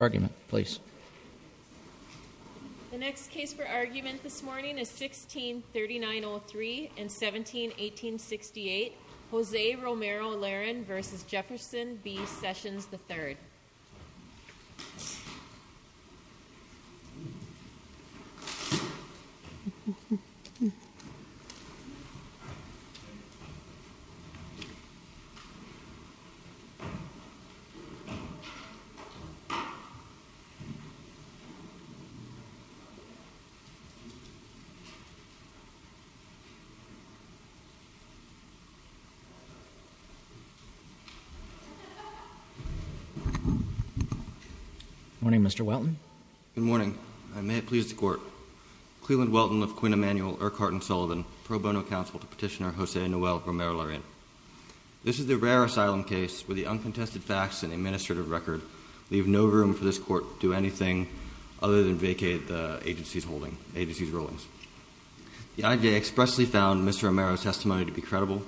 The next case for argument this morning is 1639-03 and 1718-68, Jose Romero-Larin v. Jefferson B. Sessions, III Good morning, Mr. Welton. Good morning, and may it please the Court. Cleland Welton of Quinn Emanuel, Urquhart & Sullivan, pro bono counsel to Petitioner Jose Noel Romero-Larin. This is the rare asylum case where the uncontested facts and administrative record leave no room for this Court to do anything other than vacate the agency's rulings. The IJ expressly found Mr. Romero's testimony to be credible,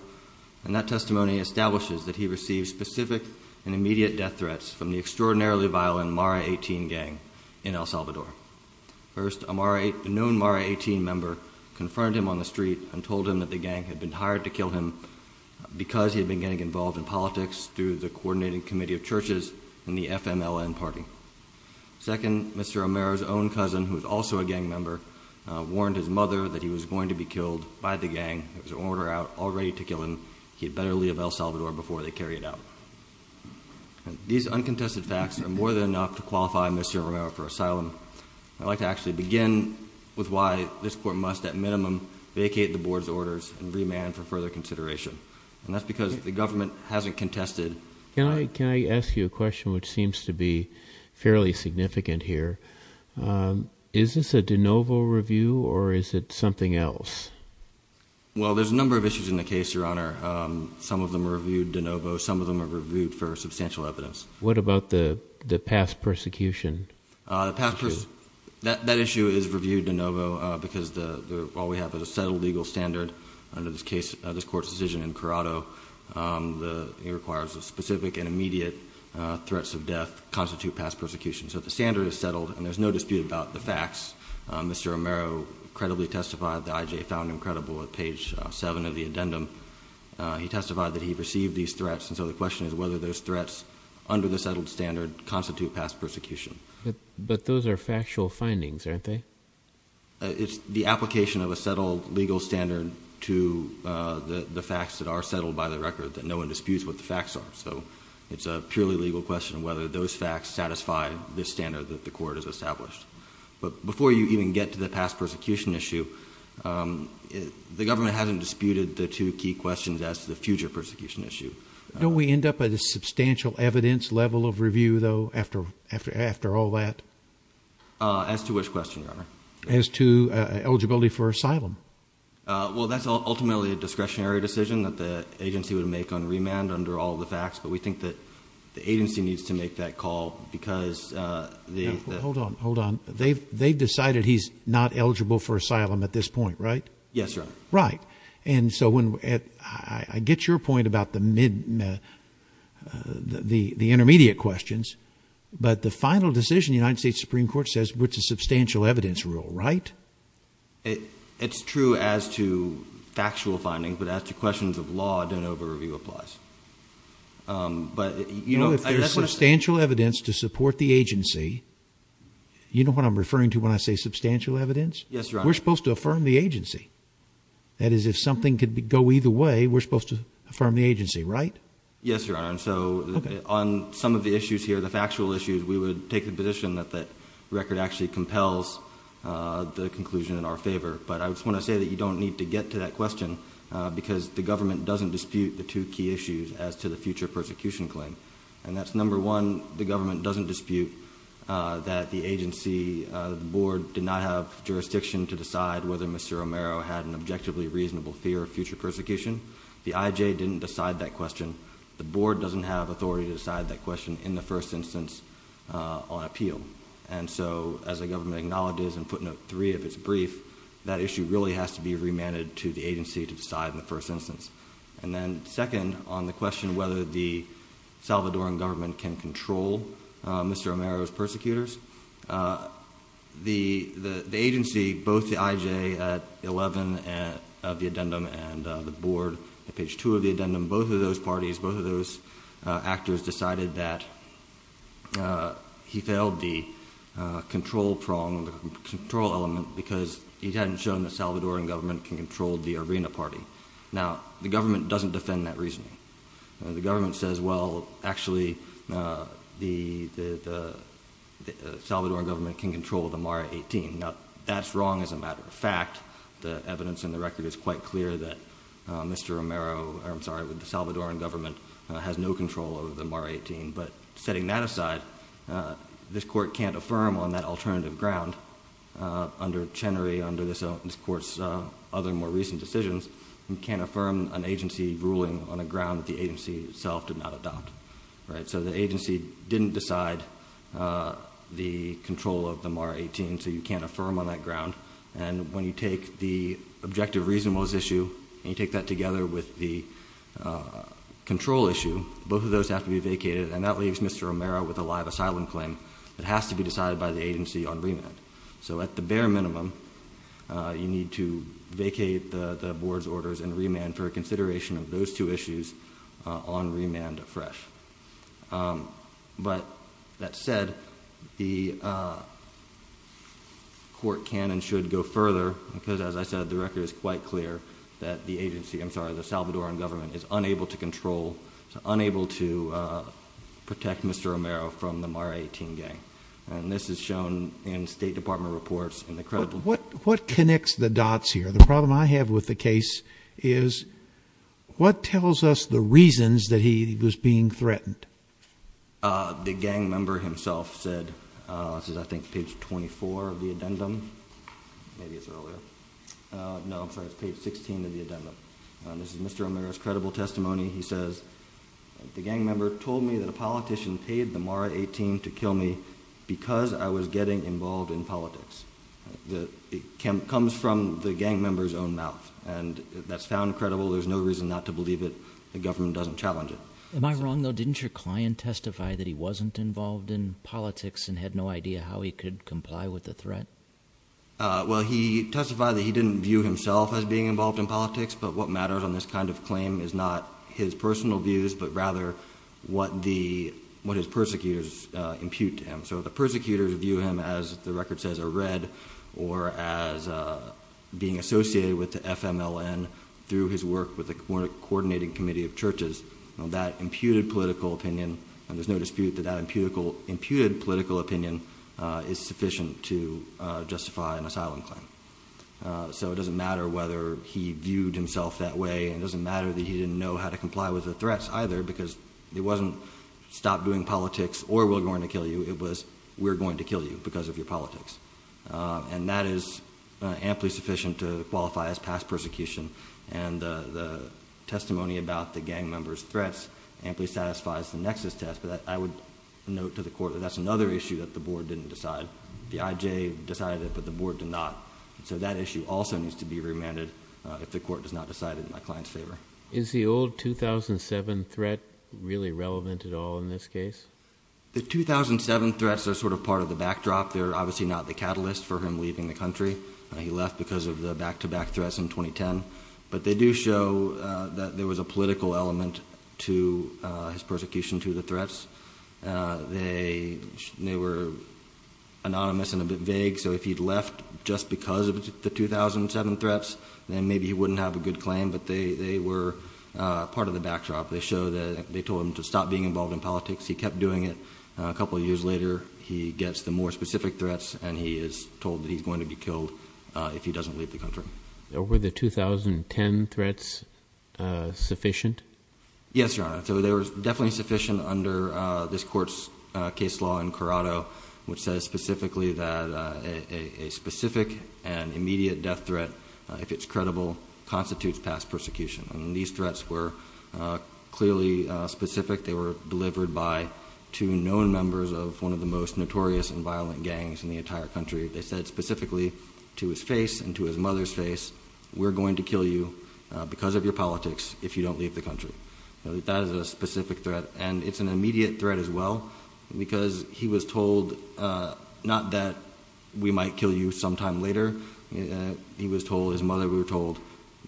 and that testimony establishes that he received specific and immediate death threats from the extraordinarily violent Mara 18 gang in El Salvador. First, a known Mara 18 member confronted him on the street and told him that the gang had been hired to kill him because he had been getting involved in politics through the Coordinating Committee of Churches and the FMLN party. Second, Mr. Romero's own cousin, who was also a gang member, warned his mother that he was going to be killed by the gang. It was an order out already to kill him. He had better leave El Salvador before they carry it out. These uncontested facts are more than enough to qualify Mr. Romero for asylum. I'd like to actually begin with why this Court must at minimum vacate the Board's orders and remand for further consideration. And that's because the government hasn't contested. Can I ask you a question which seems to be fairly significant here? Is this a de novo review or is it something else? Well, there's a number of issues in the case, Your Honor. Some of them are reviewed de novo. Some of them are reviewed for substantial evidence. What about the past persecution? That issue is reviewed de novo because while we have a settled legal standard under this Court's decision in Corrado, it requires that specific and immediate threats of death constitute past persecution. So the standard is settled and there's no dispute about the facts. Mr. Romero credibly testified, the IJ found him credible at page 7 of the addendum. He testified that he received these threats and so the question is whether those threats under the settled standard constitute past persecution. But those are factual findings, aren't they? It's the application of a settled legal standard to the facts that are settled by the record that no one disputes what the facts are. So it's a purely legal question whether those facts satisfy this standard that the Court has established. But before you even get to the past persecution issue, the government hasn't disputed the two key questions as to the future persecution issue. Don't we end up at a dead end or all that? As to which question, Your Honor? As to eligibility for asylum. Well that's ultimately a discretionary decision that the agency would make on remand under all the facts, but we think that the agency needs to make that call because... Hold on, hold on. They've decided he's not eligible for asylum at this point, right? Yes, Your Honor. Right. And so when... I get your point about the intermediate questions, but the final decision, the United States Supreme Court says, it's a substantial evidence rule, right? It's true as to factual findings, but as to questions of law, I don't know if a review applies. But, you know... If there's substantial evidence to support the agency, you know what I'm referring to when I say substantial evidence? Yes, Your Honor. We're supposed to affirm the agency. That is, if something could go either way, we're supposed to affirm the agency, right? Yes, Your Honor. And so on some of the issues here, the factual issues, we would take the position that the record actually compels the conclusion in our favor. But I just want to say that you don't need to get to that question because the government doesn't dispute the two key issues as to the future persecution claim. And that's number one, the government doesn't dispute that the agency, the board, did not have jurisdiction to decide whether Mr. Romero had an objectively reasonable fear of future persecution. The IJ didn't decide that question. The board doesn't have authority to decide that question in the first instance on appeal. And so, as the government acknowledges in footnote three of its brief, that issue really has to be remanded to the agency to decide in the first instance. And then second, on the question whether the Salvadoran government can control Mr. Romero's persecutors, the agency, both the IJ at 11 of the addendum and the board at page two of the addendum, both of those parties, both of those actors decided that he failed the control prong, the control element, because he hadn't shown the Salvadoran government can control the arena party. Now, the government doesn't defend that reasoning. The government says, well, actually, the Salvadoran government can control the MARA 18. Now, that's wrong as a matter of fact. The evidence in the record is quite clear that Mr. Romero, I'm sorry, the Salvadoran government has no control over the MARA 18. But setting that aside, this court can't affirm on that alternative ground under Chenery, under this court's other more recent decisions, you can't affirm an agency ruling on a ground that the agency itself did not adopt, right? So the agency didn't decide the control of the MARA 18, so you can't affirm on that ground. And when you take the objective reasonableness issue and you take that together with the control issue, both of those have to be vacated. And that leaves Mr. Romero with a live asylum claim that has to be decided by the agency on remand. So at the bare minimum, you need to vacate the board's orders and remand for consideration of those two issues on remand afresh. But that said, the court can and should go further, because as I said, the record is quite clear that the agency, I'm sorry, the Salvadoran government is unable to control, unable to protect Mr. Romero from the MARA 18 gang. And this is shown in State Department reports. What connects the dots here? The problem I have with the case is what tells us the reasons that he was being threatened? The gang member himself said, this is I think page 24 of the addendum, maybe it's earlier. No, I'm sorry, it's page 16 of the addendum. This is Mr. Romero's credible testimony. He says, the gang member told me that a politician paid the MARA 18 to kill me because I was getting involved in politics. It comes from the gang member's own mouth. And that's found credible. There's no reason not to believe it. The government doesn't challenge it. Am I wrong, though? Didn't your client testify that he wasn't involved in politics and had no idea how he could comply with the threat? Well, he testified that he didn't view himself as being involved in politics. But what matters on this kind of claim is not his personal views, but rather what his persecutors impute to him. So the persecutors view him as, the record says, a red, or as being associated with the FMLN through his work with the Coordinating Committee of Churches. That imputed political opinion, and there's no dispute that that imputed political opinion is sufficient to justify an asylum claim. So it doesn't matter whether he viewed himself that way, and it doesn't matter that he didn't know how to comply with the threats either, because it wasn't, stop doing politics or we're going to kill you. It was, we're going to kill you because of your politics. And that is amply sufficient to qualify as past persecution. And the testimony about the gang member's threats amply satisfies the nexus test. But I would note to the Court that that's another issue that the So that issue also needs to be remanded if the Court does not decide it in my client's favor. Is the old 2007 threat really relevant at all in this case? The 2007 threats are sort of part of the backdrop. They're obviously not the catalyst for him leaving the country. He left because of the back-to-back threats in 2010. But they do show that there was a political element to his persecution, to the threats. They were anonymous and a bit vague, so if he'd left just because of the 2007 threats, then maybe he wouldn't have a good claim. But they were part of the backdrop. They show that they told him to stop being involved in politics. He kept doing it. A couple of years later, he gets the more specific threats, and he is told that he's going to be killed if he doesn't leave the country. Were the 2010 threats sufficient? Yes, Your Honor. So they were definitely sufficient under this Court's case law in that a specific and immediate death threat, if it's credible, constitutes past persecution. These threats were clearly specific. They were delivered by two known members of one of the most notorious and violent gangs in the entire country. They said specifically to his face and to his mother's face, we're going to kill you because of your politics if you don't leave the country. That is a specific threat, and it's an immediate threat as well because he was told not that we might kill you sometime later. He was told, his mother was told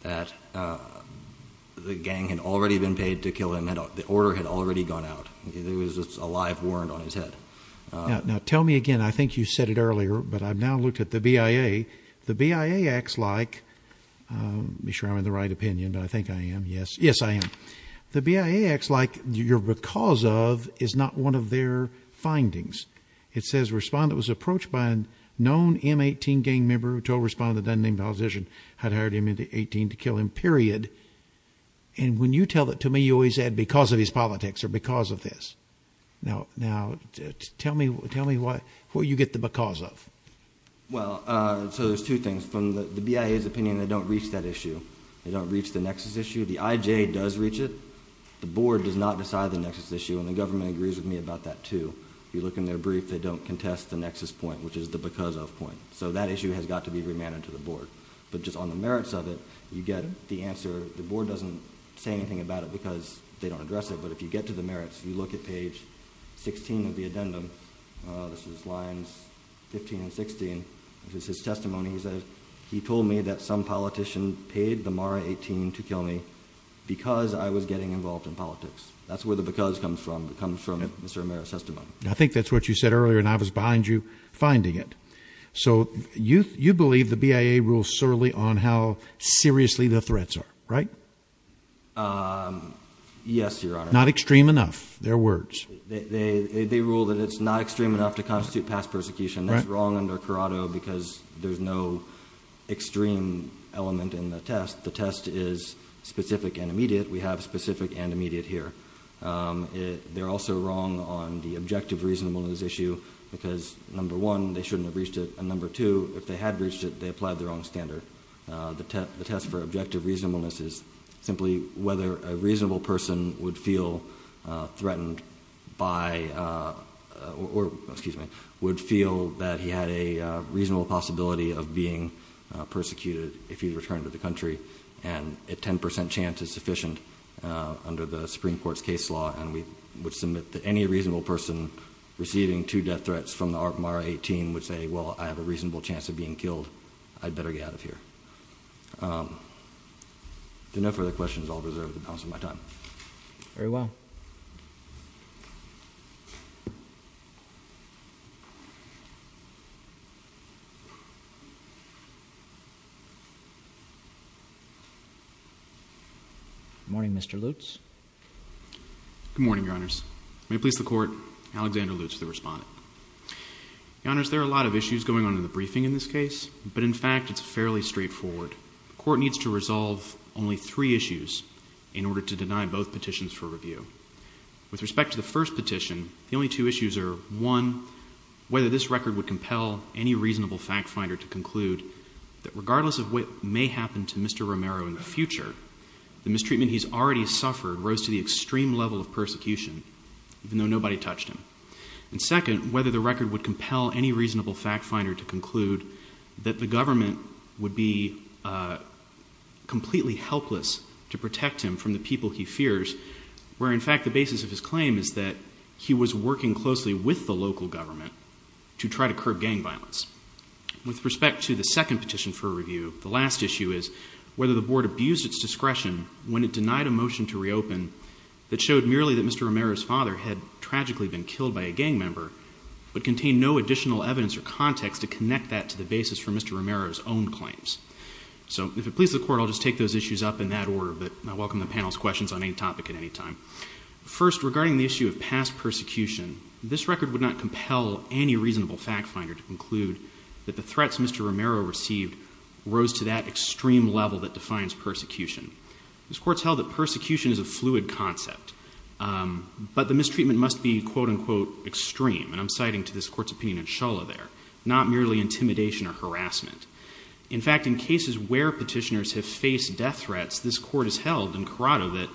that the gang had already been paid to kill him. The order had already gone out. It was a live warrant on his head. Now tell me again. I think you said it earlier, but I've now looked at the BIA. The BIA acts like, make sure I'm in the right opinion. I think I am. Yes, I am. The BIA acts like your because of is not one of their findings. It says respondent was approached by a known M18 gang member who told respondent that doesn't name the politician had hired M18 to kill him, period. And when you tell that to me, you always add because of his politics or because of this. Now tell me what you get the because of. Well, so there's two things. From the BIA's opinion, they don't reach that issue. They don't reach the nexus issue. The IJ does reach it. The board does not decide the nexus issue. And the government agrees with me about that too. If you look in their brief, they don't contest the nexus point, which is the because of point. So that issue has got to be remanded to the board. But just on the merits of it, you get the answer. The board doesn't say anything about it because they don't address it. But if you get to the merits, you look at page 16 of the addendum. This is lines 15 and 16. This is his testimony. He says, he told me that some politician paid the Mara 18 to kill me because I was getting involved in politics. That's where the because comes from. It comes from Mr. Amaro's testimony. I think that's what you said earlier and I was behind you finding it. So you, you believe the BIA rules solely on how seriously the threats are, right? Um, yes, Your Honor. Not extreme enough. Their words. They, they, they rule that it's not extreme enough to constitute past persecution. That's wrong under Corrado because there's no extreme element in the test. The test is specific and immediate. We have specific and immediate here. Um, they're also wrong on the objective reasonableness issue because number one, they shouldn't have reached it. And number two, if they had reached it, they applied the wrong standard. Uh, the test, the test for objective reasonableness is simply whether a reasonable person would feel, uh, threatened by, uh, or excuse me, would feel that he had a reasonable possibility of being persecuted if he returned to the country. And a 10% chance is sufficient, uh, under the Supreme Court's case law. And we would submit that any reasonable person receiving two death threats from the ARP MARA 18 would say, well, I have a reasonable chance of being killed. I'd better get out of here. Um, there are no further questions. I'll reserve the time. Very well. Morning, Mr. Lutz. Good morning, Your Honors. May it please the court, Alexander Lutz, the respondent. Your Honors, there are a lot of issues going on in the briefing in this case, but in fact, it's fairly straightforward. The court needs to resolve only three issues in both petitions for review. With respect to the first petition, the only two issues are one, whether this record would compel any reasonable fact finder to conclude that regardless of what may happen to Mr. Romero in the future, the mistreatment he's already suffered rose to the extreme level of persecution, even though nobody touched him. And second, whether the record would compel any reasonable fact finder to conclude that the government would be, uh, completely helpless to protect him from the people he fears, where in fact the basis of his claim is that he was working closely with the local government to try to curb gang violence. With respect to the second petition for review, the last issue is whether the board abused its discretion when it denied a motion to reopen that showed merely that Mr. Romero's father had tragically been killed by a gang member, but contained no additional evidence or context to connect that to the First, regarding the issue of past persecution, this record would not compel any reasonable fact finder to conclude that the threats Mr. Romero received rose to that extreme level that defines persecution. This court's held that persecution is a fluid concept, um, but the mistreatment must be quote unquote extreme. And I'm citing to this court's opinion in Shulla there, not merely intimidation or harassment. In fact, in cases where petitioners have faced death threats, this court has held in Corrado that,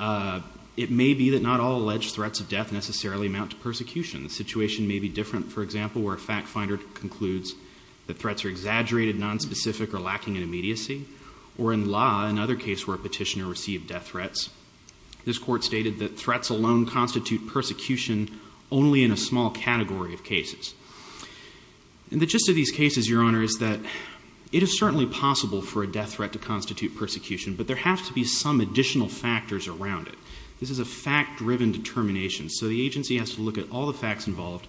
uh, it may be that not all alleged threats of death necessarily amount to persecution. The situation may be different, for example, where a fact finder concludes that threats are exaggerated, nonspecific, or lacking in immediacy, or in law, another case where a petitioner received death threats, this court stated that threats alone constitute persecution only in a small category of cases. And the gist of these cases, your honor, is that it is certainly possible for a death threat to constitute persecution, but there have to be some additional factors around it. This is a fact-driven determination, so the agency has to look at all the facts involved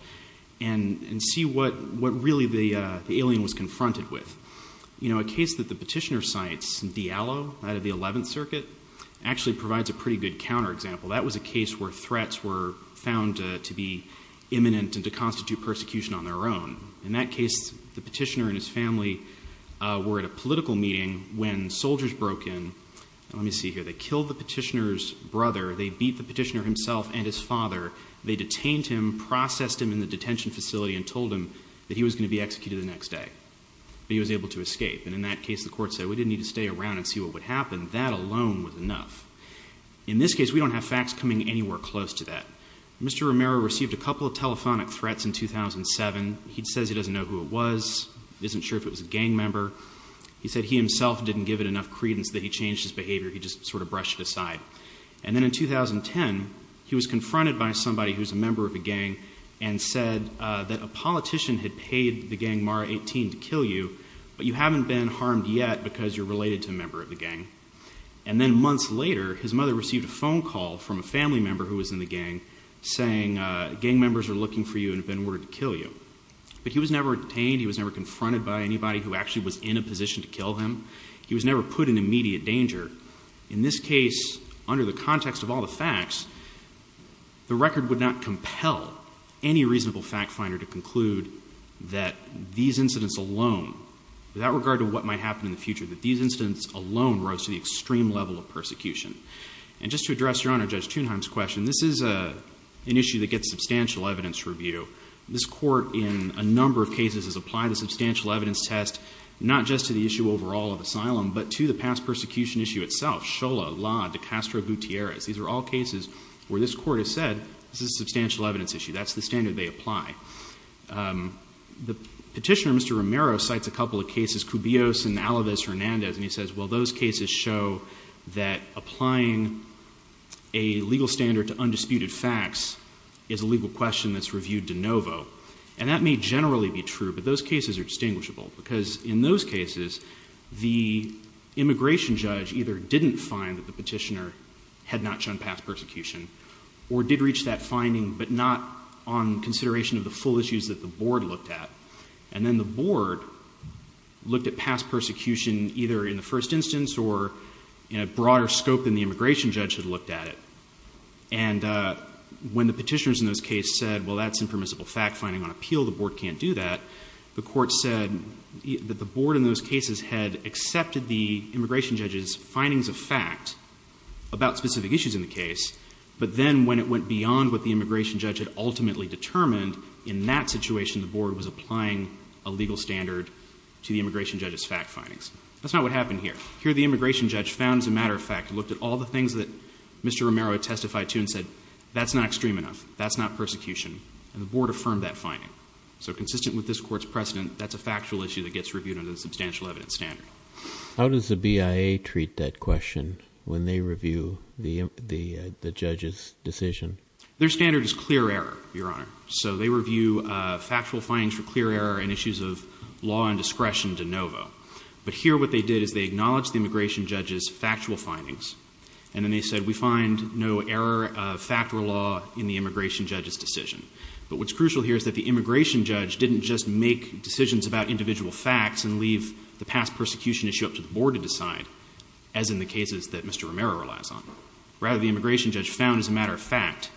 and, and see what, what really the, uh, the alien was confronted with. You know, a case that the petitioner cites, Diallo, out of the 11th Circuit, actually provides a pretty good counterexample. That was a case where threats were found, uh, to be imminent and to constitute persecution on their own. In that case, the petitioner and his family, uh, were at a political meeting when soldiers broke in, and let me see here, they killed the petitioner's brother, they beat the petitioner himself and his father, they detained him, processed him in the detention facility, and told him that he was going to be executed the next day, but he was able to escape. And in that case, the court said, we didn't need to stay around and see what would happen, that alone was enough. In this case, we don't have facts coming anywhere close to that. Mr. Romero received a couple of telephonic threats in 2007. He says he doesn't know who it was, isn't sure if it was a gang member. He said he himself didn't give it enough credence that he changed his behavior, he just sort of brushed it aside. And then in 2010, he was confronted by somebody who's a member of a gang and said, uh, that a politician had paid the gang, Mara 18, to kill you, but you haven't been harmed yet because you're related to a member of the gang. And then months later, his mother received a phone call from a family member who was in the gang saying, uh, gang members are looking for you and have been ordered to kill you. But he was never detained, he was never confronted by anybody who actually was in a position to kill him. He was never put in immediate danger. In this case, under the context of all the facts, the record would not compel any reasonable fact finder to conclude that these incidents alone rose to the extreme level of persecution. And just to address Your Honor, Judge Thunheim's question, this is an issue that gets substantial evidence review. This court in a number of cases has applied a substantial evidence test, not just to the issue overall of asylum, but to the past persecution issue itself. Shola, La, De Castro Gutierrez, these are all cases where this court has said, this is a substantial evidence issue, that's the standard they apply. The petitioner, Mr. Romero, cites a couple of cases, Cubios and Alavez Hernandez, and he says, well those cases show that applying a legal standard to undisputed facts is a legal question that's reviewed de novo. And that may generally be true, but those cases are distinguishable. Because in those cases, the immigration judge either didn't find that the full issues that the board looked at, and then the board looked at past persecution either in the first instance or in a broader scope than the immigration judge had looked at it. And when the petitioners in those cases said, well that's impermissible fact finding on appeal, the board can't do that, the court said that the board in those cases had accepted the immigration judge's findings of fact about specific issues in the case, but then when it went beyond what the in that situation, the board was applying a legal standard to the immigration judge's fact findings. That's not what happened here. Here the immigration judge found as a matter of fact, looked at all the things that Mr. Romero had testified to and said, that's not extreme enough, that's not persecution, and the board affirmed that finding. So consistent with this court's precedent, that's a factual issue that gets reviewed under the substantial evidence standard. How does the BIA treat that question when they review the judge's decision? Their standard is clear error, Your Honor. So they review factual findings for clear error and issues of law and discretion de novo. But here what they did is they acknowledged the immigration judge's factual findings, and then they said we find no error of fact or law in the immigration judge's decision. But what's crucial here is that the immigration judge didn't just make decisions about individual facts and leave the past persecution issue up to the board to decide, as in the cases that Mr. Romero relies on. Rather the immigration judge found as a matter of fact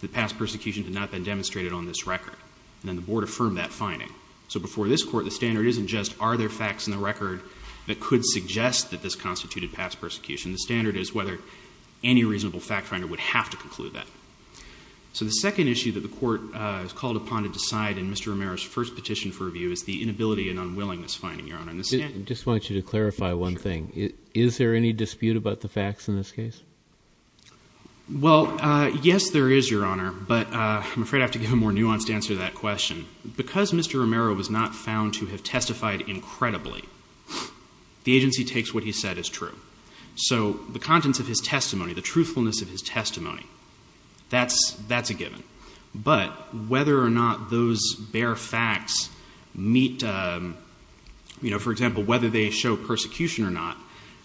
that past persecution had not been demonstrated on this record, and then the board affirmed that finding. So before this court the standard isn't just are there facts in the record that could suggest that this constituted past persecution. The standard is whether any reasonable fact finder would have to conclude that. So the second issue that the court is called upon to decide in Mr. Romero's first petition for review is the inability and unwillingness finding, Your Honor. I just want you to clarify one thing. Is there any dispute about the facts in this case? Well, yes, there is, Your Honor. But I'm afraid I have to give a more nuanced answer to that question. Because Mr. Romero was not found to have testified incredibly, the agency takes what he said as true. So the contents of his testimony, the truthfulness of his testimony, that's a given. But whether or not those bare facts meet, you know, for example, whether they show persecution or not,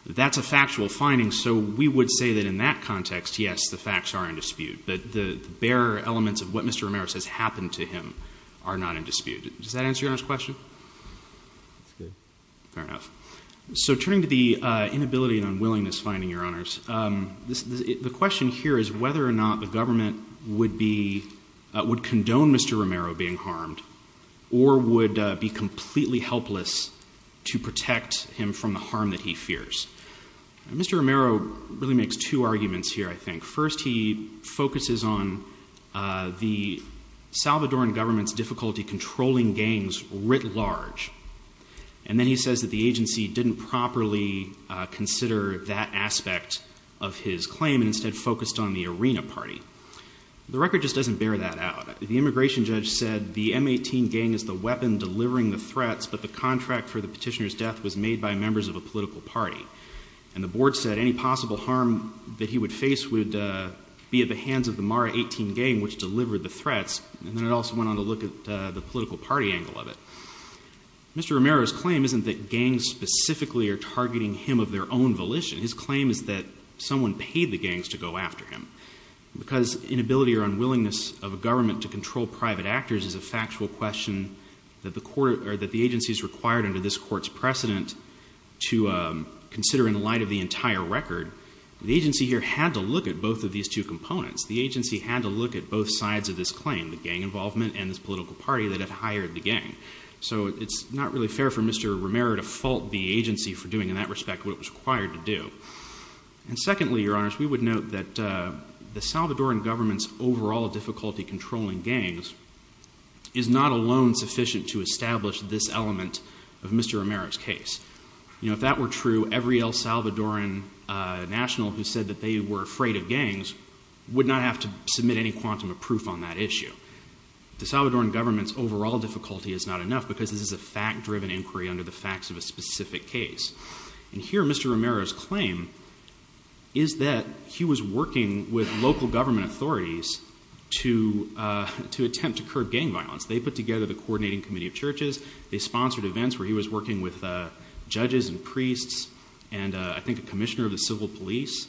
that's a factual finding. So we would say that in that context, yes, the facts are in dispute. But the bare elements of what Mr. Romero says happened to him are not in dispute. Does that answer Your Honor's question? That's good. Fair enough. So turning to the inability and unwillingness finding, Your Honors, the question here is whether or not the government would condone Mr. Romero being harmed or would be completely helpless to protect him from the harm that he fears. Mr. Romero really makes two arguments here, I think. First, he focuses on the Salvadoran government's difficulty controlling gangs writ large. And then he says that the agency didn't properly consider that aspect of his claim and instead focused on the Arena Party. The record just doesn't bear that out. The immigration judge said the M18 gang is the weapon delivering the threats, but the contract for the petitioner's death was made by members of a political party. And the board said any possible harm that he would face would be at the hands of the Mara 18 gang, which delivered the threats. And then it also went on to look at the political party angle of it. Mr. Romero's claim isn't that gangs specifically are targeting him of their own volition. His inability or unwillingness of a government to control private actors is a factual question that the agency is required under this court's precedent to consider in the light of the entire record. The agency here had to look at both of these two components. The agency had to look at both sides of this claim, the gang involvement and this political party that had hired the gang. So it's not really fair for Mr. Romero to fault the agency for doing in that respect what was required to do. And secondly, Your Honor, we would note that the Salvadoran government's overall difficulty controlling gangs is not alone sufficient to establish this element of Mr. Romero's case. You know, if that were true, every El Salvadoran national who said that they were afraid of gangs would not have to submit any quantum of proof on that issue. The Salvadoran government's overall difficulty is not enough because this is a fact-driven inquiry under the claim is that he was working with local government authorities to attempt to curb gang violence. They put together the coordinating committee of churches. They sponsored events where he was working with judges and priests and I think a commissioner of the civil police.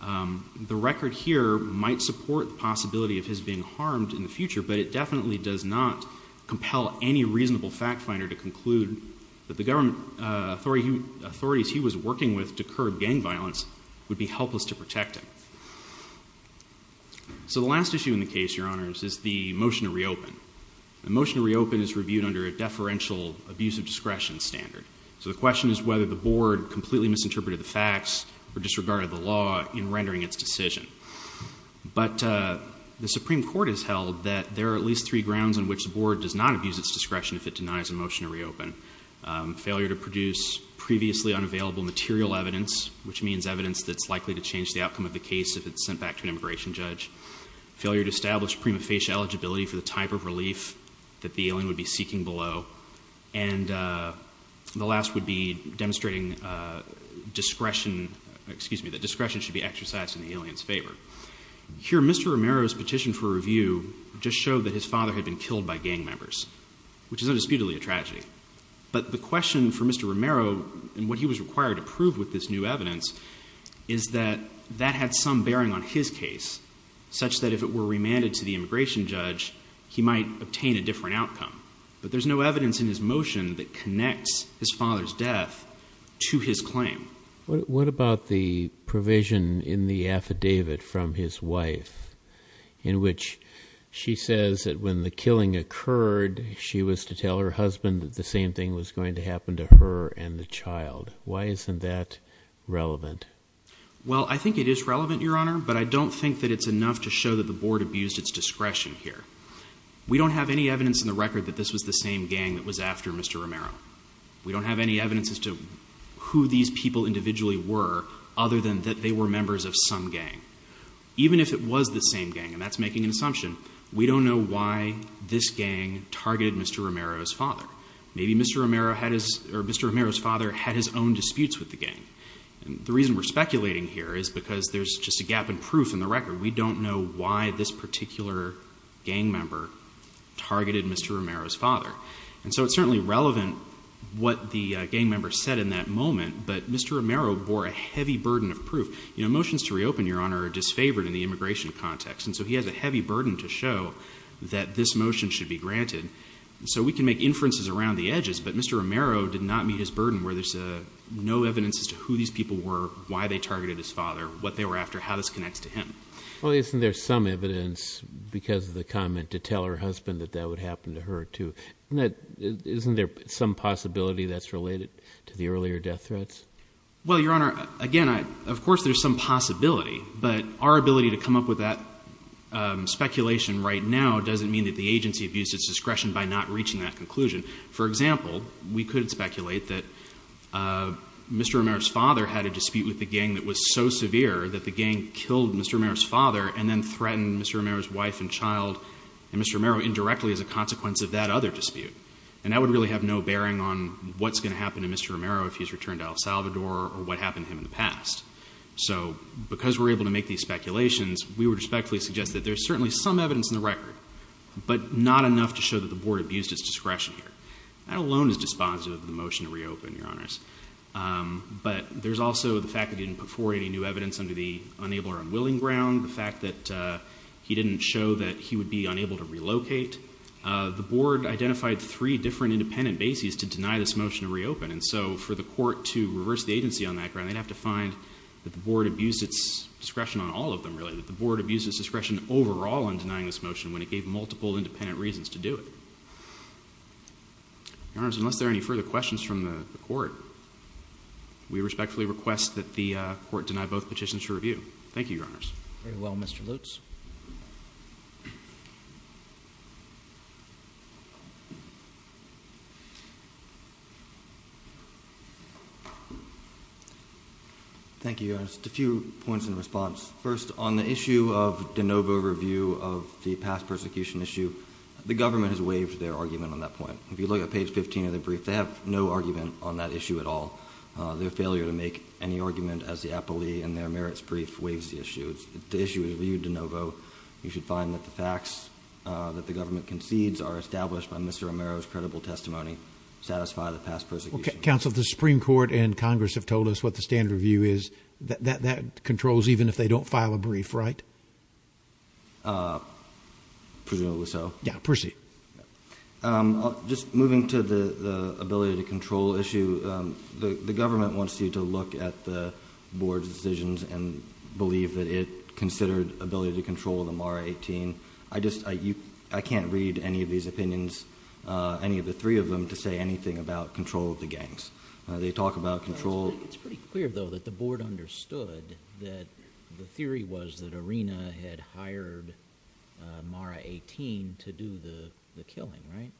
The record here might support the possibility of his being harmed in the future, but it definitely does not compel any reasonable fact finder to conclude that the government authorities he was working with to curb gang violence would be helpless to protect him. So the last issue in the case, Your Honors, is the motion to reopen. The motion to reopen is reviewed under a deferential abuse of discretion standard. So the question is whether the board completely misinterpreted the facts or disregarded the law in rendering its decision. But the Supreme Court has held that there are at least three grounds on which the board does not abuse its discretion if it denies a motion to reopen. Failure to produce previously unavailable material evidence, which means evidence that's likely to change the outcome of the case if it's sent back to an immigration judge. Failure to establish prima facie eligibility for the type of relief that the alien would be seeking below. And the last would be demonstrating discretion, excuse me, that discretion should be exercised in the alien's favor. Here Mr. Romero's petition for review just showed that his father had been killed by gang members, which is undisputedly a tragedy. But the question for Mr. Romero and what he was required to prove with this new evidence is that that had some bearing on his case, such that if it were remanded to the immigration judge, he might obtain a different outcome. But there's no evidence in his motion that connects his father's death to his claim. What about the provision in the affidavit from his wife in which she says that when the killing occurred, she was to tell her husband that the same thing was going to happen to her and the child? Why isn't that relevant? Well, I think it is relevant, Your Honor, but I don't think that it's enough to show that the board abused its discretion here. We don't have any evidence in the record that this was the same gang that was after Mr. Romero. We don't have any evidence as to who these people individually were other than that they were members of some gang. Even if it was the same gang, and that's making an assumption, we don't know why this gang targeted Mr. Romero's father. Maybe Mr. Romero had his, or Mr. Romero's father had his own disputes with the gang. And the reason we're speculating here is because there's just a gap in proof in the record. We don't know why this particular gang member targeted Mr. Romero's father. It's not really relevant what the gang member said in that moment, but Mr. Romero bore a heavy burden of proof. Motions to reopen, Your Honor, are disfavored in the immigration context, and so he has a heavy burden to show that this motion should be granted. So we can make inferences around the edges, but Mr. Romero did not meet his burden where there's no evidence as to who these people were, why they targeted his father, what they were after, how this connects to him. Well, isn't there some evidence because of the comment to tell her husband that that would some possibility that's related to the earlier death threats? Well, Your Honor, again, of course there's some possibility, but our ability to come up with that speculation right now doesn't mean that the agency abused its discretion by not reaching that conclusion. For example, we could speculate that Mr. Romero's father had a dispute with the gang that was so severe that the gang killed Mr. Romero's father and then threatened Mr. Romero's wife and child and Mr. Romero indirectly as a consequence of that other dispute. And that would really have no bearing on what's going to happen to Mr. Romero if he's returned to El Salvador or what happened to him in the past. So because we're able to make these speculations, we would respectfully suggest that there's certainly some evidence in the record, but not enough to show that the board abused its discretion here. That alone is dispositive of the motion to reopen, Your Honors. But there's also the fact that he didn't put forward any new evidence under the unable or unwilling ground, the fact that he didn't show that he would be three different independent bases to deny this motion to reopen. And so for the court to reverse the agency on that ground, they'd have to find that the board abused its discretion on all of them, really. That the board abused its discretion overall in denying this motion when it gave multiple independent reasons to do it. Your Honors, unless there are any further questions from the court, we respectfully request that the court deny both petitions for review. Thank you, Your Honors. Very well, Mr. Lutz. Thank you, Your Honors. Just a few points in response. First, on the issue of de novo review of the past persecution issue, the government has waived their argument on that point. If you look at page 15 of the brief, they have no argument on that issue at all. Their failure to make any brief waives the issue. The issue is reviewed de novo. You should find that the facts that the government concedes are established by Mr. Romero's credible testimony satisfy the past persecution. Counsel, the Supreme Court and Congress have told us what the standard review is. That controls even if they don't file a brief, right? Presumably so. Yeah, proceed. Just moving to the ability to control issue, the government wants you to look at the belief that it considered ability to control the Mara 18. I can't read any of these opinions, any of the three of them, to say anything about control of the gangs. They talk about control. It's pretty clear, though, that the board understood that the theory was that Arena had hired Mara 18 to do the killing, right?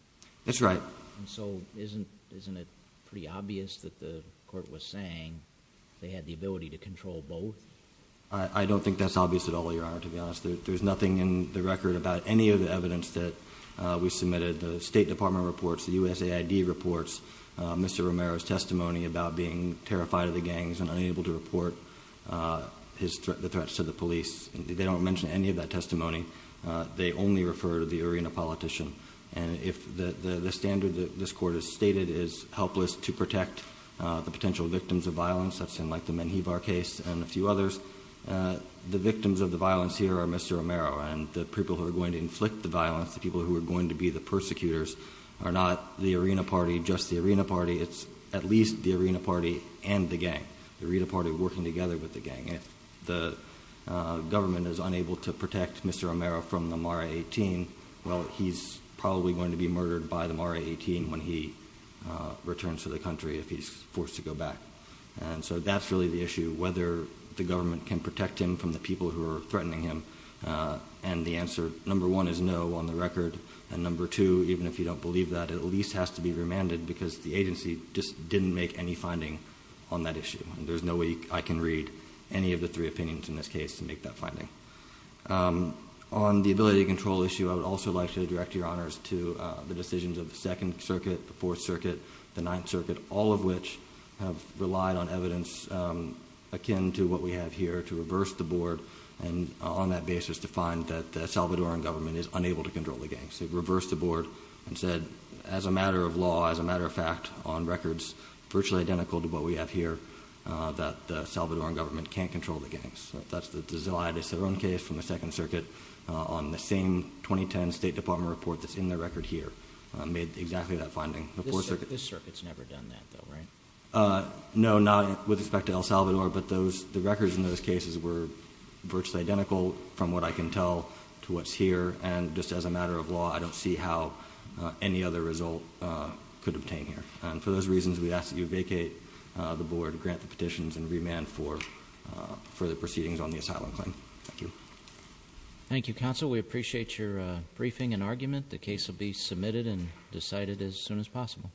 That's right. So isn't it pretty obvious that the I don't think that's obvious at all, Your Honor, to be honest. There's nothing in the record about any of the evidence that we submitted. The State Department reports the USAID reports Mr. Romero's testimony about being terrified of the gangs and unable to report the threats to the police. They don't mention any of that testimony. They only refer to the Arena politician. And if the standard that this court has stated is helpless to protect the potential victims of violence, that's in like the Menjivar case and a few others, the victims of the violence here are Mr. Romero and the people who are going to inflict the violence, the people who are going to be the persecutors, are not the Arena Party, just the Arena Party. It's at least the Arena Party and the gang, the Arena Party working together with the gang. If the government is unable to protect Mr. Romero from the Mara 18, well, he's probably going to be murdered by the Mara 18 when he returns to the country, if he's forced to go back. And so that's really the issue, whether the government can protect him from the people who are threatening him. And the answer, number one, is no on the record. And number two, even if you don't believe that, at least has to be remanded because the agency just didn't make any finding on that issue. And there's no way I can read any of the three opinions in this case to make that finding. On the ability to control issue, I would also like to direct your honors to the decisions of the Second Circuit, the Fourth Circuit, the Ninth Circuit, all of which have relied on evidence akin to what we have here to reverse the board and on that basis to find that the Salvadoran government is unable to control the gangs. They've reversed the board and said, as a matter of law, as a matter of fact, on records virtually identical to what we have here, that the Salvadoran government can't control the gangs. That's the desire. That's their own case from the Second Circuit on the same 2010 State Department report that's in the record here, made exactly that finding. This circuit's never done that though, right? No, not with respect to El Salvador, but the records in those cases were virtually identical from what I can tell to what's here. And just as a matter of law, I don't see how any other result could obtain here. And for those reasons, we ask that you vacate the board, grant the petitions, and remand for further proceedings on the asylum claim. Thank you. Thank you, Counsel. We appreciate your briefing and argument. The case will be submitted and decided as soon as possible.